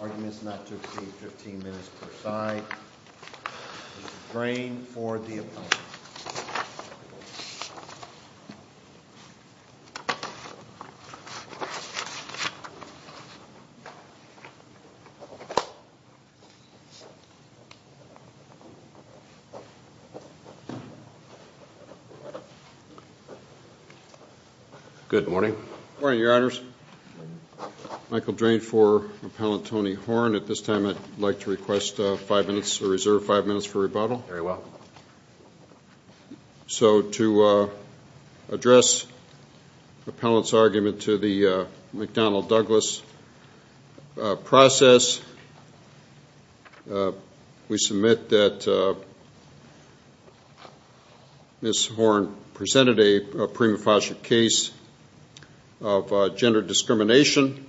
Arguments not to exceed 15 minutes per side, Mr. Drain for the opponent. Good morning, your honors. Michael Drain for Appellant Tony Horn. At this time I'd like to reserve five minutes for rebuttal. Very well. So to address the Appellant's argument to the McDonnell-Douglas process, we submit that Ms. Horn presented a prima facie case of gender discrimination.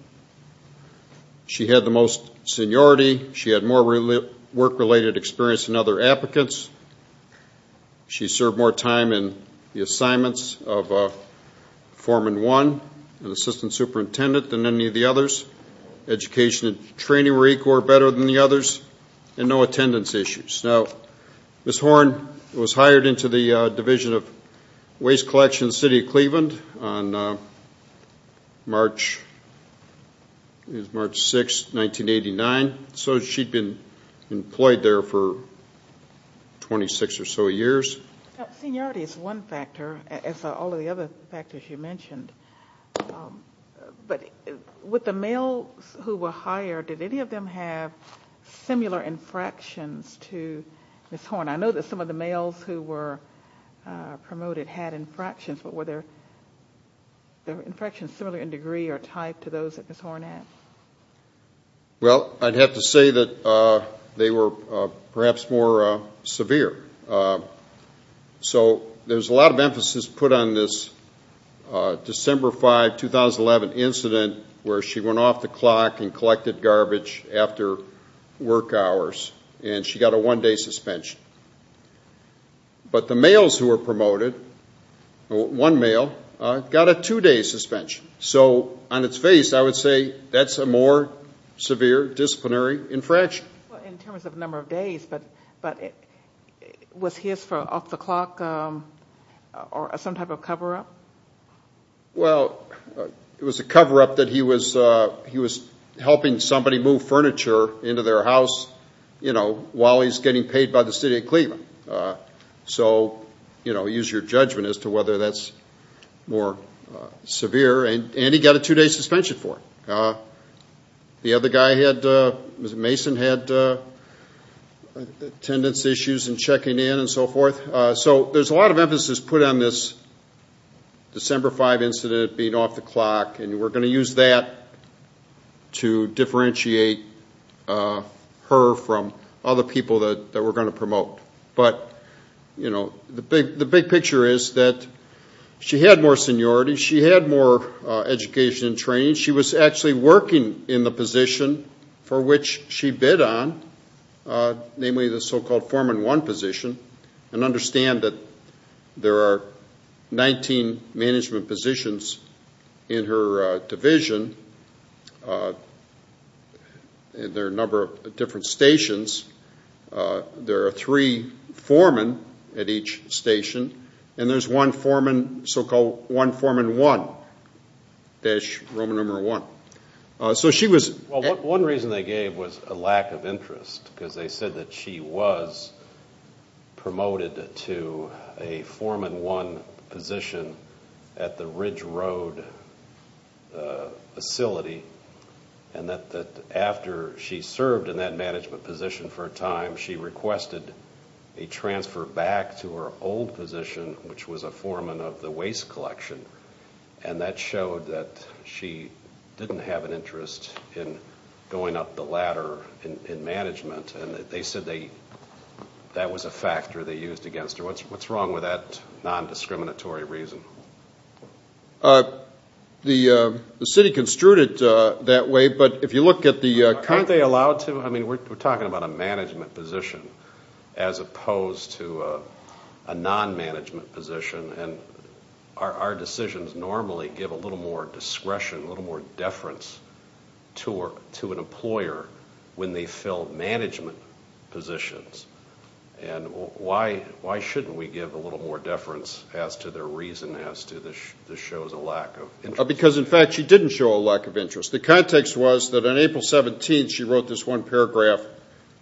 She had the most seniority. She had more work-related experience and other applicants. She served more time in the assignments of foreman one and assistant superintendent than any of the others. Education and training were equal or better than the others and no attendance issues. Now, Ms. Horn was hired into the Division of Waste 26 or so years. Seniority is one factor, as are all of the other factors you mentioned. But with the males who were hired, did any of them have similar infractions to Ms. Horn? I know that some of the males who were promoted had infractions, but were their infractions similar in degree or type to those that Ms. Horn had? Well, I'd have to say that they were perhaps more severe. So there's a lot of emphasis put on this December 5, 2011 incident where she went off the clock and collected garbage after work hours and she got a one-day suspension. But the males who were promoted, one male, got a two-day suspension. So on its face, I would say that's a more severe disciplinary infraction. In terms of number of days, but was his off the clock or some type of cover-up? Well, it was a cover-up that he was helping somebody move furniture into their house while he's getting paid by the city of Cleveland. So use your judgment as to whether that's more severe. And he got a two-day suspension for it. The other guy, Mr. Mason, had attendance issues and checking in and so forth. So there's a lot of emphasis put on this December 5 incident being off the clock, and we're going to use that to differentiate her from other people that we're going to promote. But the big picture is that she had more seniority. She had more education and training. She was actually working in the position for which she bid on, namely the so-called foreman one position. And understand that there are 19 management positions in her division. There are a number of different stations. There are three foremen at each station, and there's one foreman, so-called one foreman one, dash Roman number one. So she was... One reason they gave was a lack of interest, because they said that she was promoted to a foreman one position at the Ridge Road facility, and that after she served in that management position for a time, she requested a transfer back to her old position, which was a foreman of the waste collection. And that showed that she didn't have an interest in going up the What's wrong with that non-discriminatory reason? The city construed it that way, but if you look at the current... Aren't they allowed to? I mean, we're talking about a management position as opposed to a non-management position, and our decisions normally give a little more discretion, a little more deference to an employer when they fill management positions. And why shouldn't we give a little more deference as to their reason as to this shows a lack of interest? Because in fact, she didn't show a lack of interest. The context was that on April 17th, she wrote this one paragraph,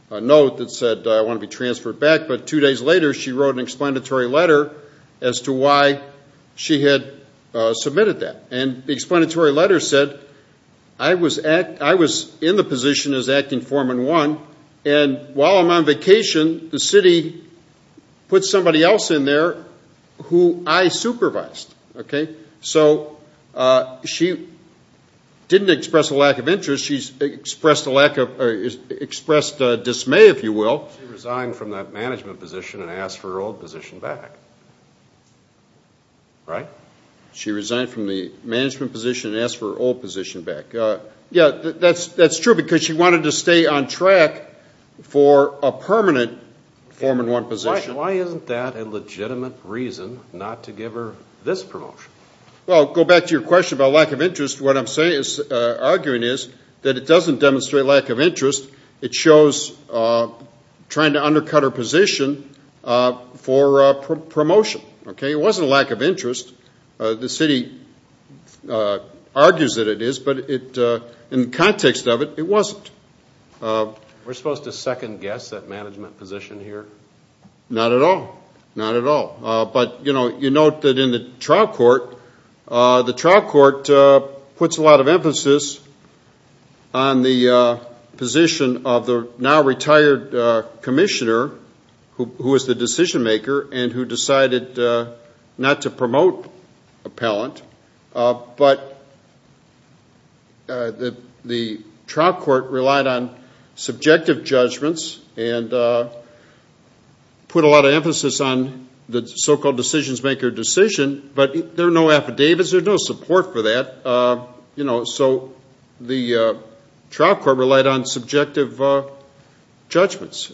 a note that said, I want to be transferred back. But two days later, she wrote an explanatory letter as to why she had submitted that. And the explanatory letter said, I was in the position as acting foreman one, and while I'm on vacation, the city put somebody else in there who I supervised. Okay? So she didn't express a lack of interest. She expressed a lack of... expressed dismay, if you will. She resigned from that management position and asked for her old position back. Right? She resigned from the management position and asked for her old position back. Yeah, that's true because she wanted to stay on track for a permanent foreman one position. Why isn't that a legitimate reason not to give her this promotion? Well, go back to your question about lack of interest. What I'm arguing is that it doesn't demonstrate lack of interest. It shows trying to undercut her position for promotion. Okay? It wasn't a lack of interest. The city argues that it is, but in context of it, it wasn't. We're supposed to second guess that management position here? Not at all. Not at all. But, you know, you note that in the trial court, the trial court puts a lot of emphasis on the position of the now retired commissioner who was the decision maker and who decided not to promote appellant, but the trial court relied on subjective judgments and put a lot of emphasis on the so-called decision maker decision, but there are no affidavits. There's no support for that. So the trial court relied on subjective judgments.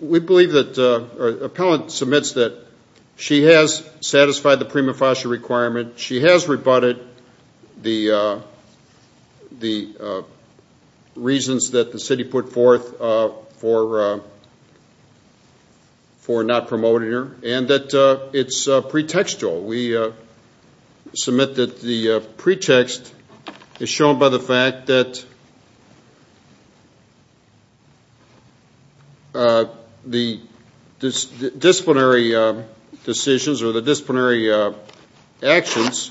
We believe that appellant submits that she has satisfied the prima facie requirement. She has rebutted the reasons that the city put forth for not promoting her, and that it's pretextual. We submit that the pretext is shown by the fact that the city has not promoted her. The disciplinary decisions or the disciplinary actions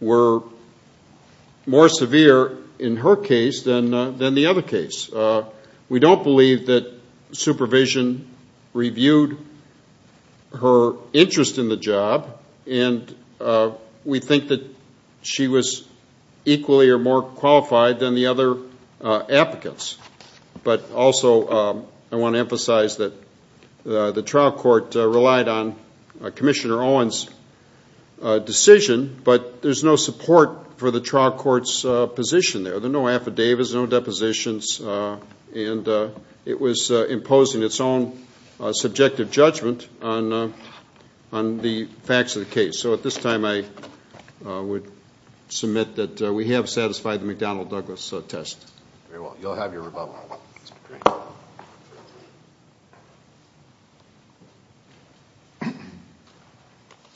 were more severe in her case than the other case. We don't believe that supervision reviewed her interest in the job, and we think that she was equally or more qualified than the other applicants, but also I want to emphasize that the trial court relied on Commissioner Owen's decision, but there's no support for the trial court's position there. There are no affidavits, no depositions, and it was imposing its own subjective judgment on the facts of the case. So at this time I would submit that we have satisfied the McDonnell-Douglas test. Very well. You'll have your rebuttal.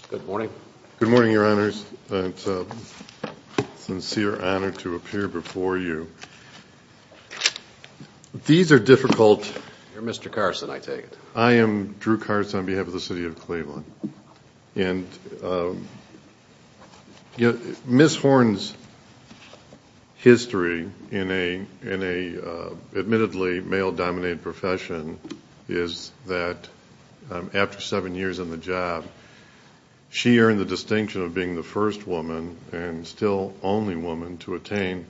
Good morning. Good morning, Your Honors. It's a sincere honor to appear before you. These are difficult... You're Mr. Carson, I take it. And Ms. Horne's history in a admittedly male-dominated profession is that after seven years in the job, she earned the distinction of being the first woman and still only woman to attain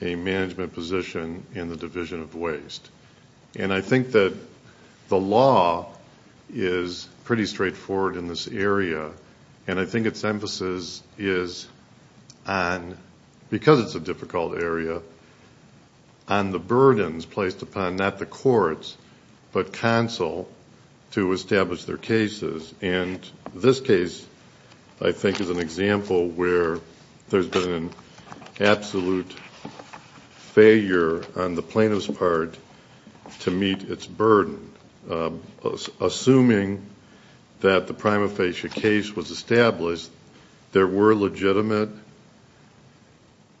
a management position in the Division of Waste. And I think that the law is pretty straightforward in this area, and I think its emphasis is on, because it's a difficult area, on the burdens placed upon not the courts, but counsel, to establish their cases. And this case I think is an example where there's been an absolute failure on the plaintiff's part to establish that there were legitimate,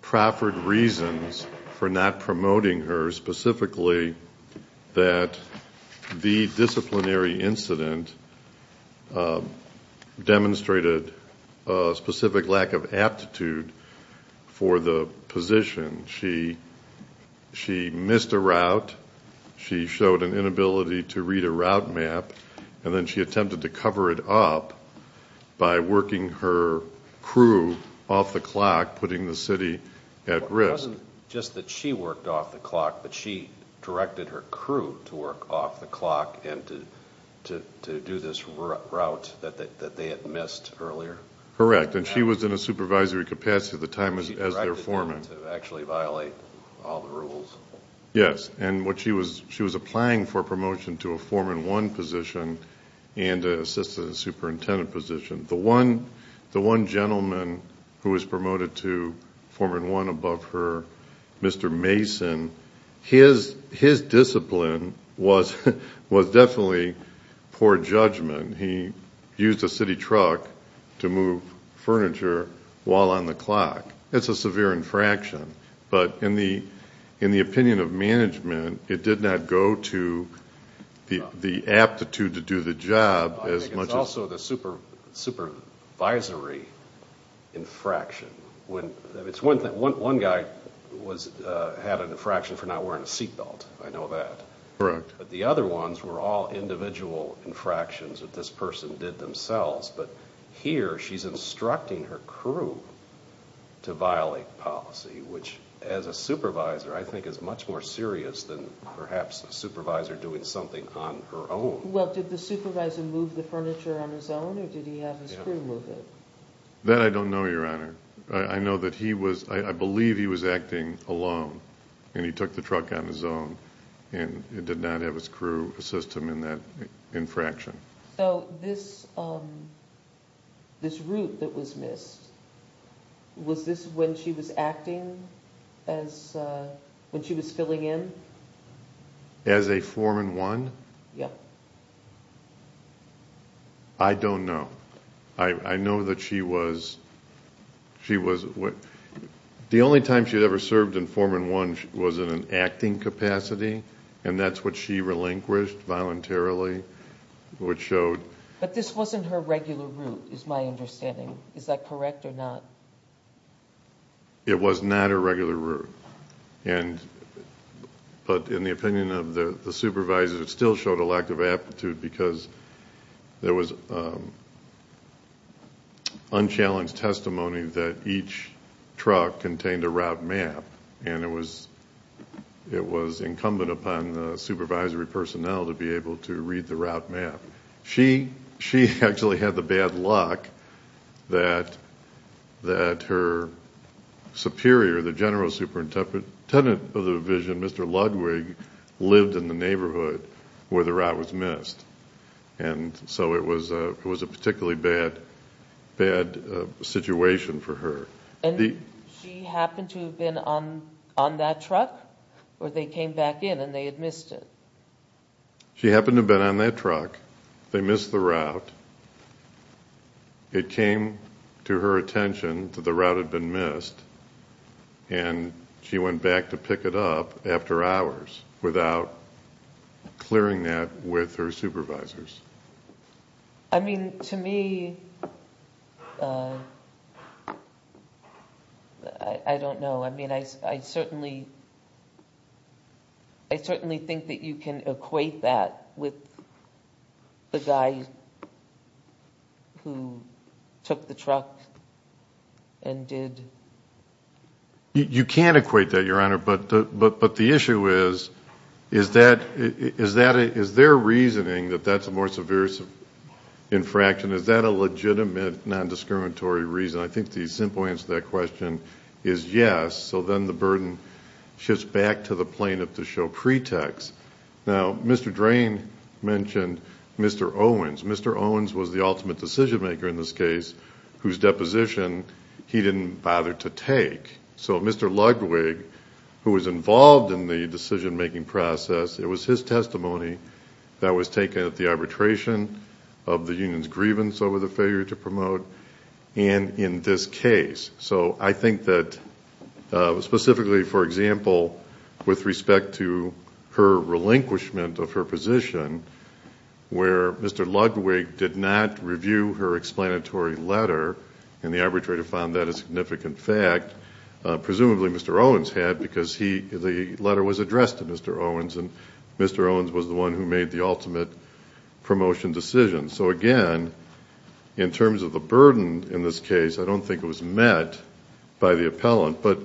proffered reasons for not promoting her, specifically that the disciplinary incident demonstrated a specific lack of aptitude for the position. She missed a route, she showed an inability to read a route map, and then she attempted to cover it up by working her crew off the clock, putting the city at risk. It wasn't just that she worked off the clock, but she directed her crew to work off the clock and to do this route that they had missed earlier? Correct, and she was in a supervisory capacity at the time as their foreman. Yes, and she was applying for a promotion to a foreman one position and an assistant superintendent position. The one gentleman who was promoted to foreman one above her, Mr. Mason, his discipline was definitely poor judgment. He used a city truck to move furniture while on the clock. It's a severe infraction, but in the opinion of management, it did not go to the aptitude to do the job as much as... I think it's also the supervisory infraction. One guy had an infraction for not wearing a seat belt, I know that, but the other ones were all individual infractions that this was instructing her crew to violate policy, which as a supervisor I think is much more serious than perhaps a supervisor doing something on her own. Well, did the supervisor move the furniture on his own or did he have his crew move it? That I don't know, Your Honor. I know that he was, I believe he was acting alone and he took the truck on his own and did not have his crew assist him in that infraction. So this route that was missed, was this when she was acting as, when she was filling in? As a foreman one? Yeah. I don't know. I know that she was, the only time she had ever served in foreman one was in an acting capacity and that's what she relinquished voluntarily, which showed... But this wasn't her regular route is my understanding. Is that correct or not? It was not her regular route. But in the opinion of the supervisor, it still showed a lack of aptitude because there was unchallenged testimony that each truck contained a route map and it was incumbent upon the supervisory personnel to be able to read the route map. She actually had the bad luck that her superior, the general superintendent of the division, Mr. Ludwig, lived in the neighborhood where the route was missed. And so it was a particularly bad situation for her. And she happened to have been on that truck or they came back in and they had missed it? She happened to have been on that truck. They missed the route. It came to her attention that the route had been missed and she went back to pick it up after hours without clearing that with her supervisors. I mean, to me, I don't know. I mean, I certainly think that you can equate that with the guy who took the truck and did... You can't equate that, Your Honor, but the issue is, is their reasoning that that's more severe infraction, is that a legitimate non-discriminatory reason? I think the simple answer to that question is yes. So then the burden shifts back to the plaintiff to show pretext. Now Mr. Drain mentioned Mr. Owens. Mr. Owens was the ultimate decision maker in this case whose deposition he didn't bother to take. So Mr. Ludwig, who was involved in the decision making process, it was his testimony that was taken at the arbitration of the union's grievance over the failure to promote and in this case. So I think that specifically, for example, with respect to her relinquishment of her position where Mr. Ludwig did not review her explanatory letter and the arbitrator found that a significant fact, presumably Mr. Owens had because the letter was addressed to Mr. Owens and Mr. Owens was the one who made the ultimate promotion decision. So again, in terms of the burden in this case, I don't think it was met by the appellant, but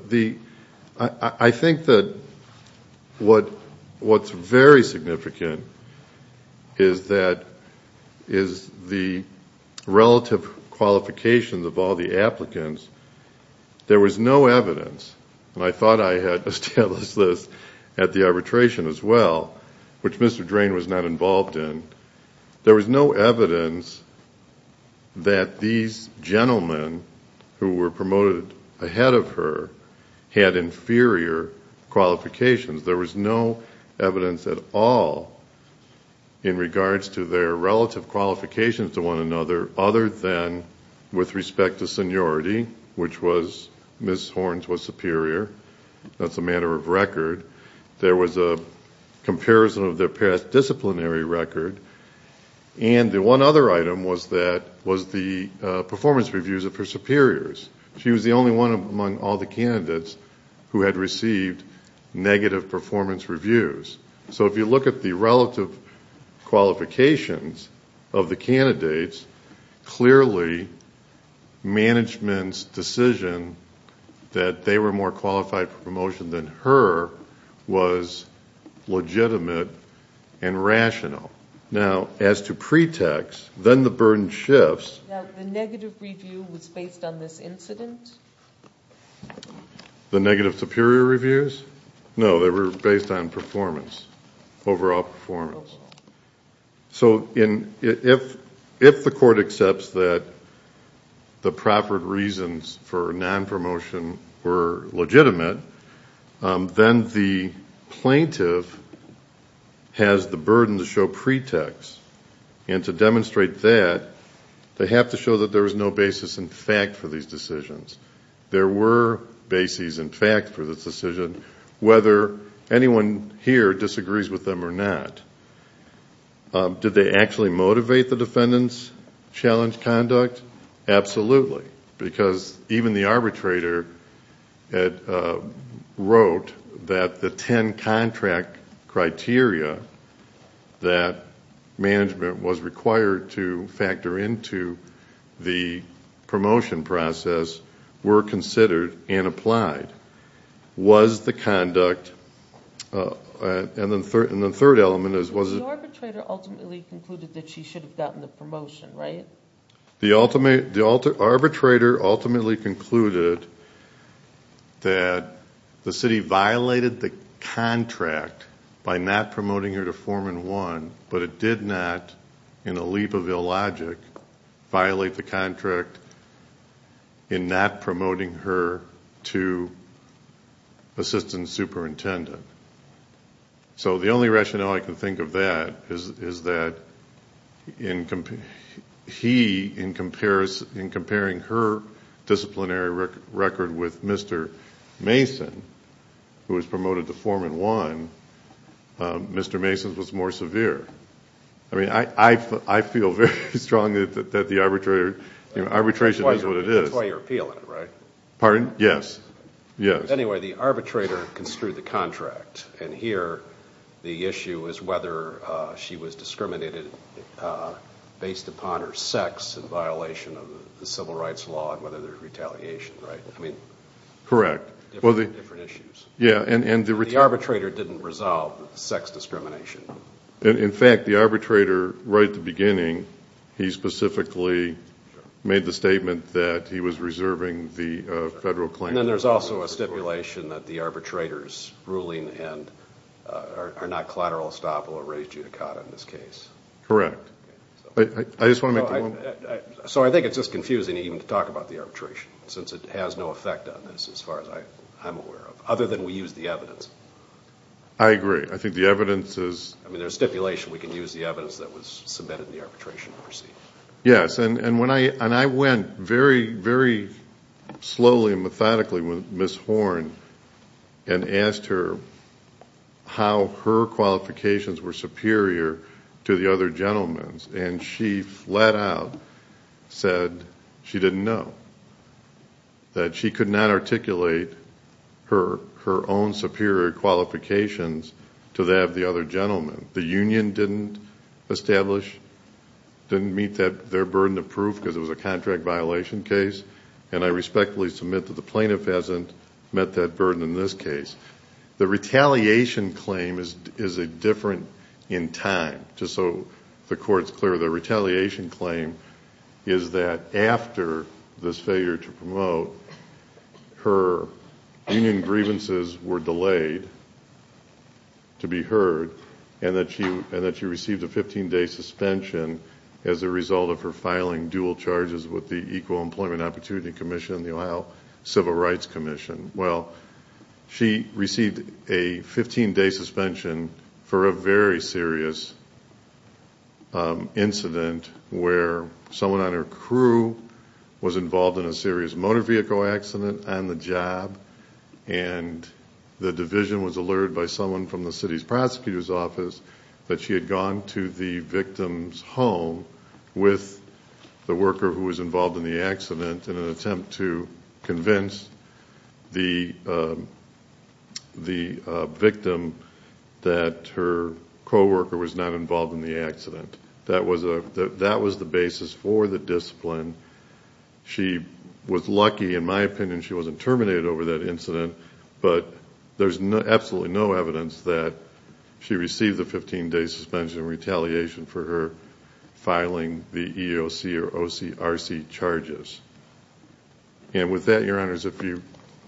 I think that what's very significant is that the relative qualifications of all the applicants, there was no evidence, and I thought I had established this at the arbitration as well, which Mr. Drain was not involved in, there was no evidence that these gentlemen who were promoted ahead of her had inferior qualifications. There was no evidence at all in regards to their relative qualifications to one another other than with respect to seniority, which was Ms. Horns was superior. That's a matter of record. There was a comparison of their past disciplinary record and the one other item was that, was the performance reviews of her superiors. She was the only one among all the candidates who had received negative performance reviews. So if you look at the relative qualifications of the candidates, clearly management's decision that they were more qualified for promotion than her was legitimate and rational. Now, as to pretext, then the burden shifts. Now, the negative review was based on this incident? The negative superior reviews? No, they were based on performance, overall performance. So, if the court accepts that the proper reasons for non-promotion were legitimate, then the plaintiff has the burden to show pretext, and to demonstrate that, they have to show that there is no basis in fact for these decisions. There were bases in fact for this decision, whether anyone here disagrees with them or not. Did they actually motivate the defendant's challenge conduct? Absolutely, because even the arbitrator wrote that the 10 contract criteria that management was required to factor into the promotion process were considered and applied. Was the conduct, and the third element is, was it... The arbitrator ultimately concluded that she should have gotten the promotion, right? The arbitrator ultimately concluded that the city violated the contract by not promoting her to Foreman 1, but it did not, in a leap of illogic, violate the contract in not promoting her to Assistant Superintendent. So, the only rationale I can think of that is that he, in comparing her disciplinary record with Mr. Mason, who was promoted to Foreman 1, Mr. Mason's was more severe. I mean, I feel very strongly that the arbitration is what the... Pardon? Yes. Anyway, the arbitrator construed the contract, and here the issue is whether she was discriminated based upon her sex in violation of the civil rights law and whether there's retaliation, right? I mean... Correct. Different issues. Yeah, and the... The arbitrator didn't resolve the sex discrimination. In fact, the arbitrator, right at the beginning, he specifically made the statement that he was reserving the federal claim. And then there's also a stipulation that the arbitrator's ruling are not collateral estoppel or res judicata in this case. Correct. I just want to make the point... So I think it's just confusing even to talk about the arbitration, since it has no effect on this, as far as I'm aware of, other than we use the evidence. I agree. I think the evidence is... I mean, there's stipulation we can use the evidence that was submitted in the arbitration to proceed. Yes, and I went very, very slowly and methodically with Ms. Horn and asked her how her qualifications were superior to the other gentleman's, and she flat out said she didn't know, that she could not articulate her own superior qualifications to that of the other gentleman. The union didn't establish, didn't meet their burden of proof because it was a contract violation case, and I respectfully submit that the plaintiff hasn't met that burden in this case. The retaliation claim is different in time, just so the court's clear. The retaliation claim is that after this failure to promote, her union grievances were delayed to be heard, and that she received a 15-day suspension as a result of her filing dual charges with the Equal Employment Opportunity Commission and the Ohio Civil Rights Commission. Well, she received a 15-day suspension for a very serious incident where someone on her crew was involved in a serious motor vehicle accident on the job, and the division was alerted by someone from the city's prosecutor's office that she had gone to the victim's home with the worker who was involved in the accident in an attempt to convince the victim that her co-worker was not involved in the accident. That was the basis for the discipline. She was lucky, in my opinion, she wasn't terminated over that incident, but there's absolutely no evidence that she received the 15-day suspension retaliation for her filing the EEOC or OCRC charges. With that, Your Honors, if you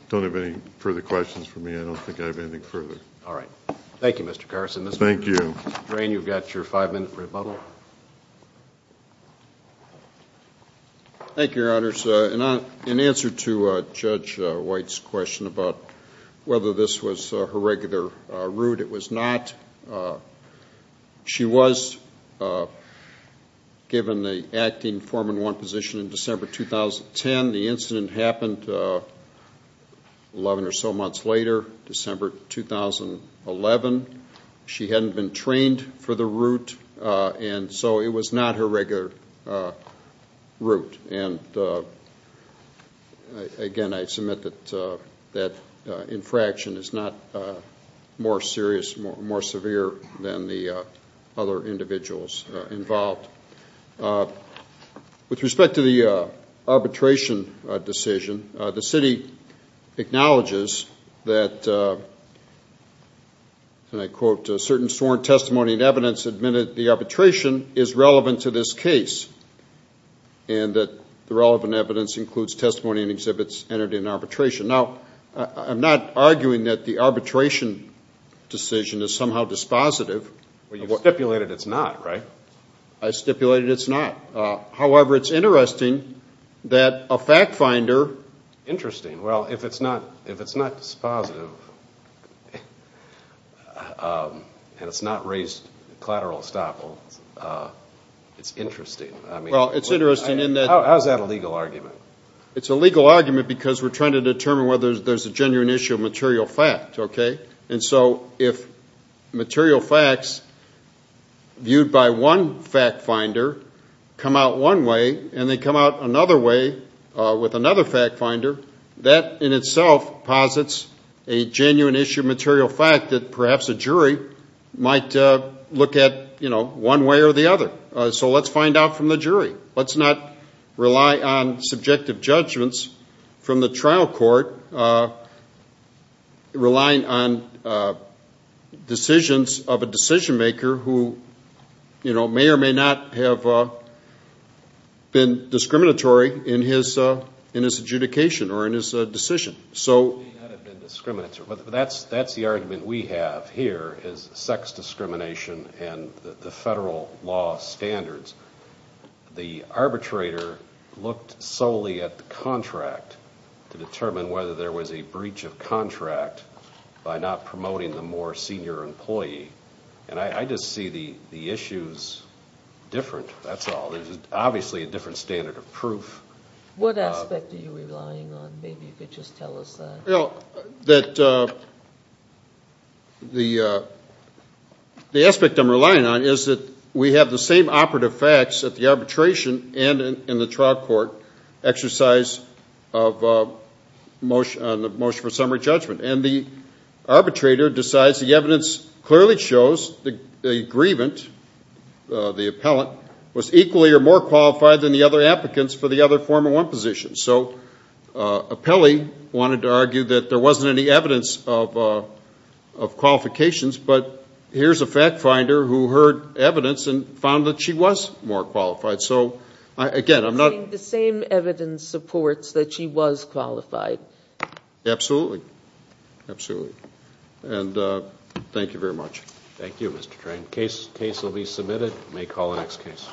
don't have any further questions for me, I don't think I have anything further. All right. Thank you, Mr. Carson. Thank you. Thank you, Your Honors. In answer to Judge White's question about whether this was her regular route, it was not. She was given the acting Foreman 1 position in December 2010. The incident happened 11 or so months later, December 2011. She hadn't been trained for it, so it was not her regular route. Again, I submit that infraction is not more serious, more severe than the other individuals involved. With respect to the arbitration decision, the city acknowledges that, and I quote, certain sworn testimony and evidence admitted the arbitration is relevant to this case, and that the relevant evidence includes testimony and exhibits entered in arbitration. Now, I'm not arguing that the arbitration decision is somehow dispositive. Well, you stipulated it's not, right? I stipulated it's not. However, it's interesting that a fact finder... That's not raised collateral estoppel. It's interesting. Well, it's interesting in that... How is that a legal argument? It's a legal argument because we're trying to determine whether there's a genuine issue of material fact, okay? And so if material facts viewed by one fact finder come out one way and they come out another way with another fact finder, that in itself posits a genuine issue of material fact that perhaps a jury might look at one way or the other. So let's find out from the jury. Let's not rely on subjective judgments from the trial court, relying on decisions of a decision maker who may or may not have been discriminatory in his adjudication or in his decision. May not have been discriminatory, but that's the argument we have here is sex discrimination and the federal law standards. The arbitrator looked solely at the contract to determine whether there was a breach of contract by not promoting the more senior employee. And I just see the issues different, that's all. There's obviously a different standard of proof. What aspect are you relying on? Maybe you could just tell us that. The aspect I'm relying on is that we have the same operative facts at the arbitration and in the trial court exercise of motion for summary judgment. And the arbitrator decides the evidence clearly shows the grievant, the appellant, was equally or more qualified than the other applicants for the other form of one position. So appellee wanted to argue that there wasn't any evidence of qualifications, but here's a fact finder who heard evidence and found that she was more qualified. So again, I'm not... The same evidence supports that she was qualified. Absolutely. Absolutely. And thank you very much. Thank you, Mr. Train. Case will be submitted. May call the next case.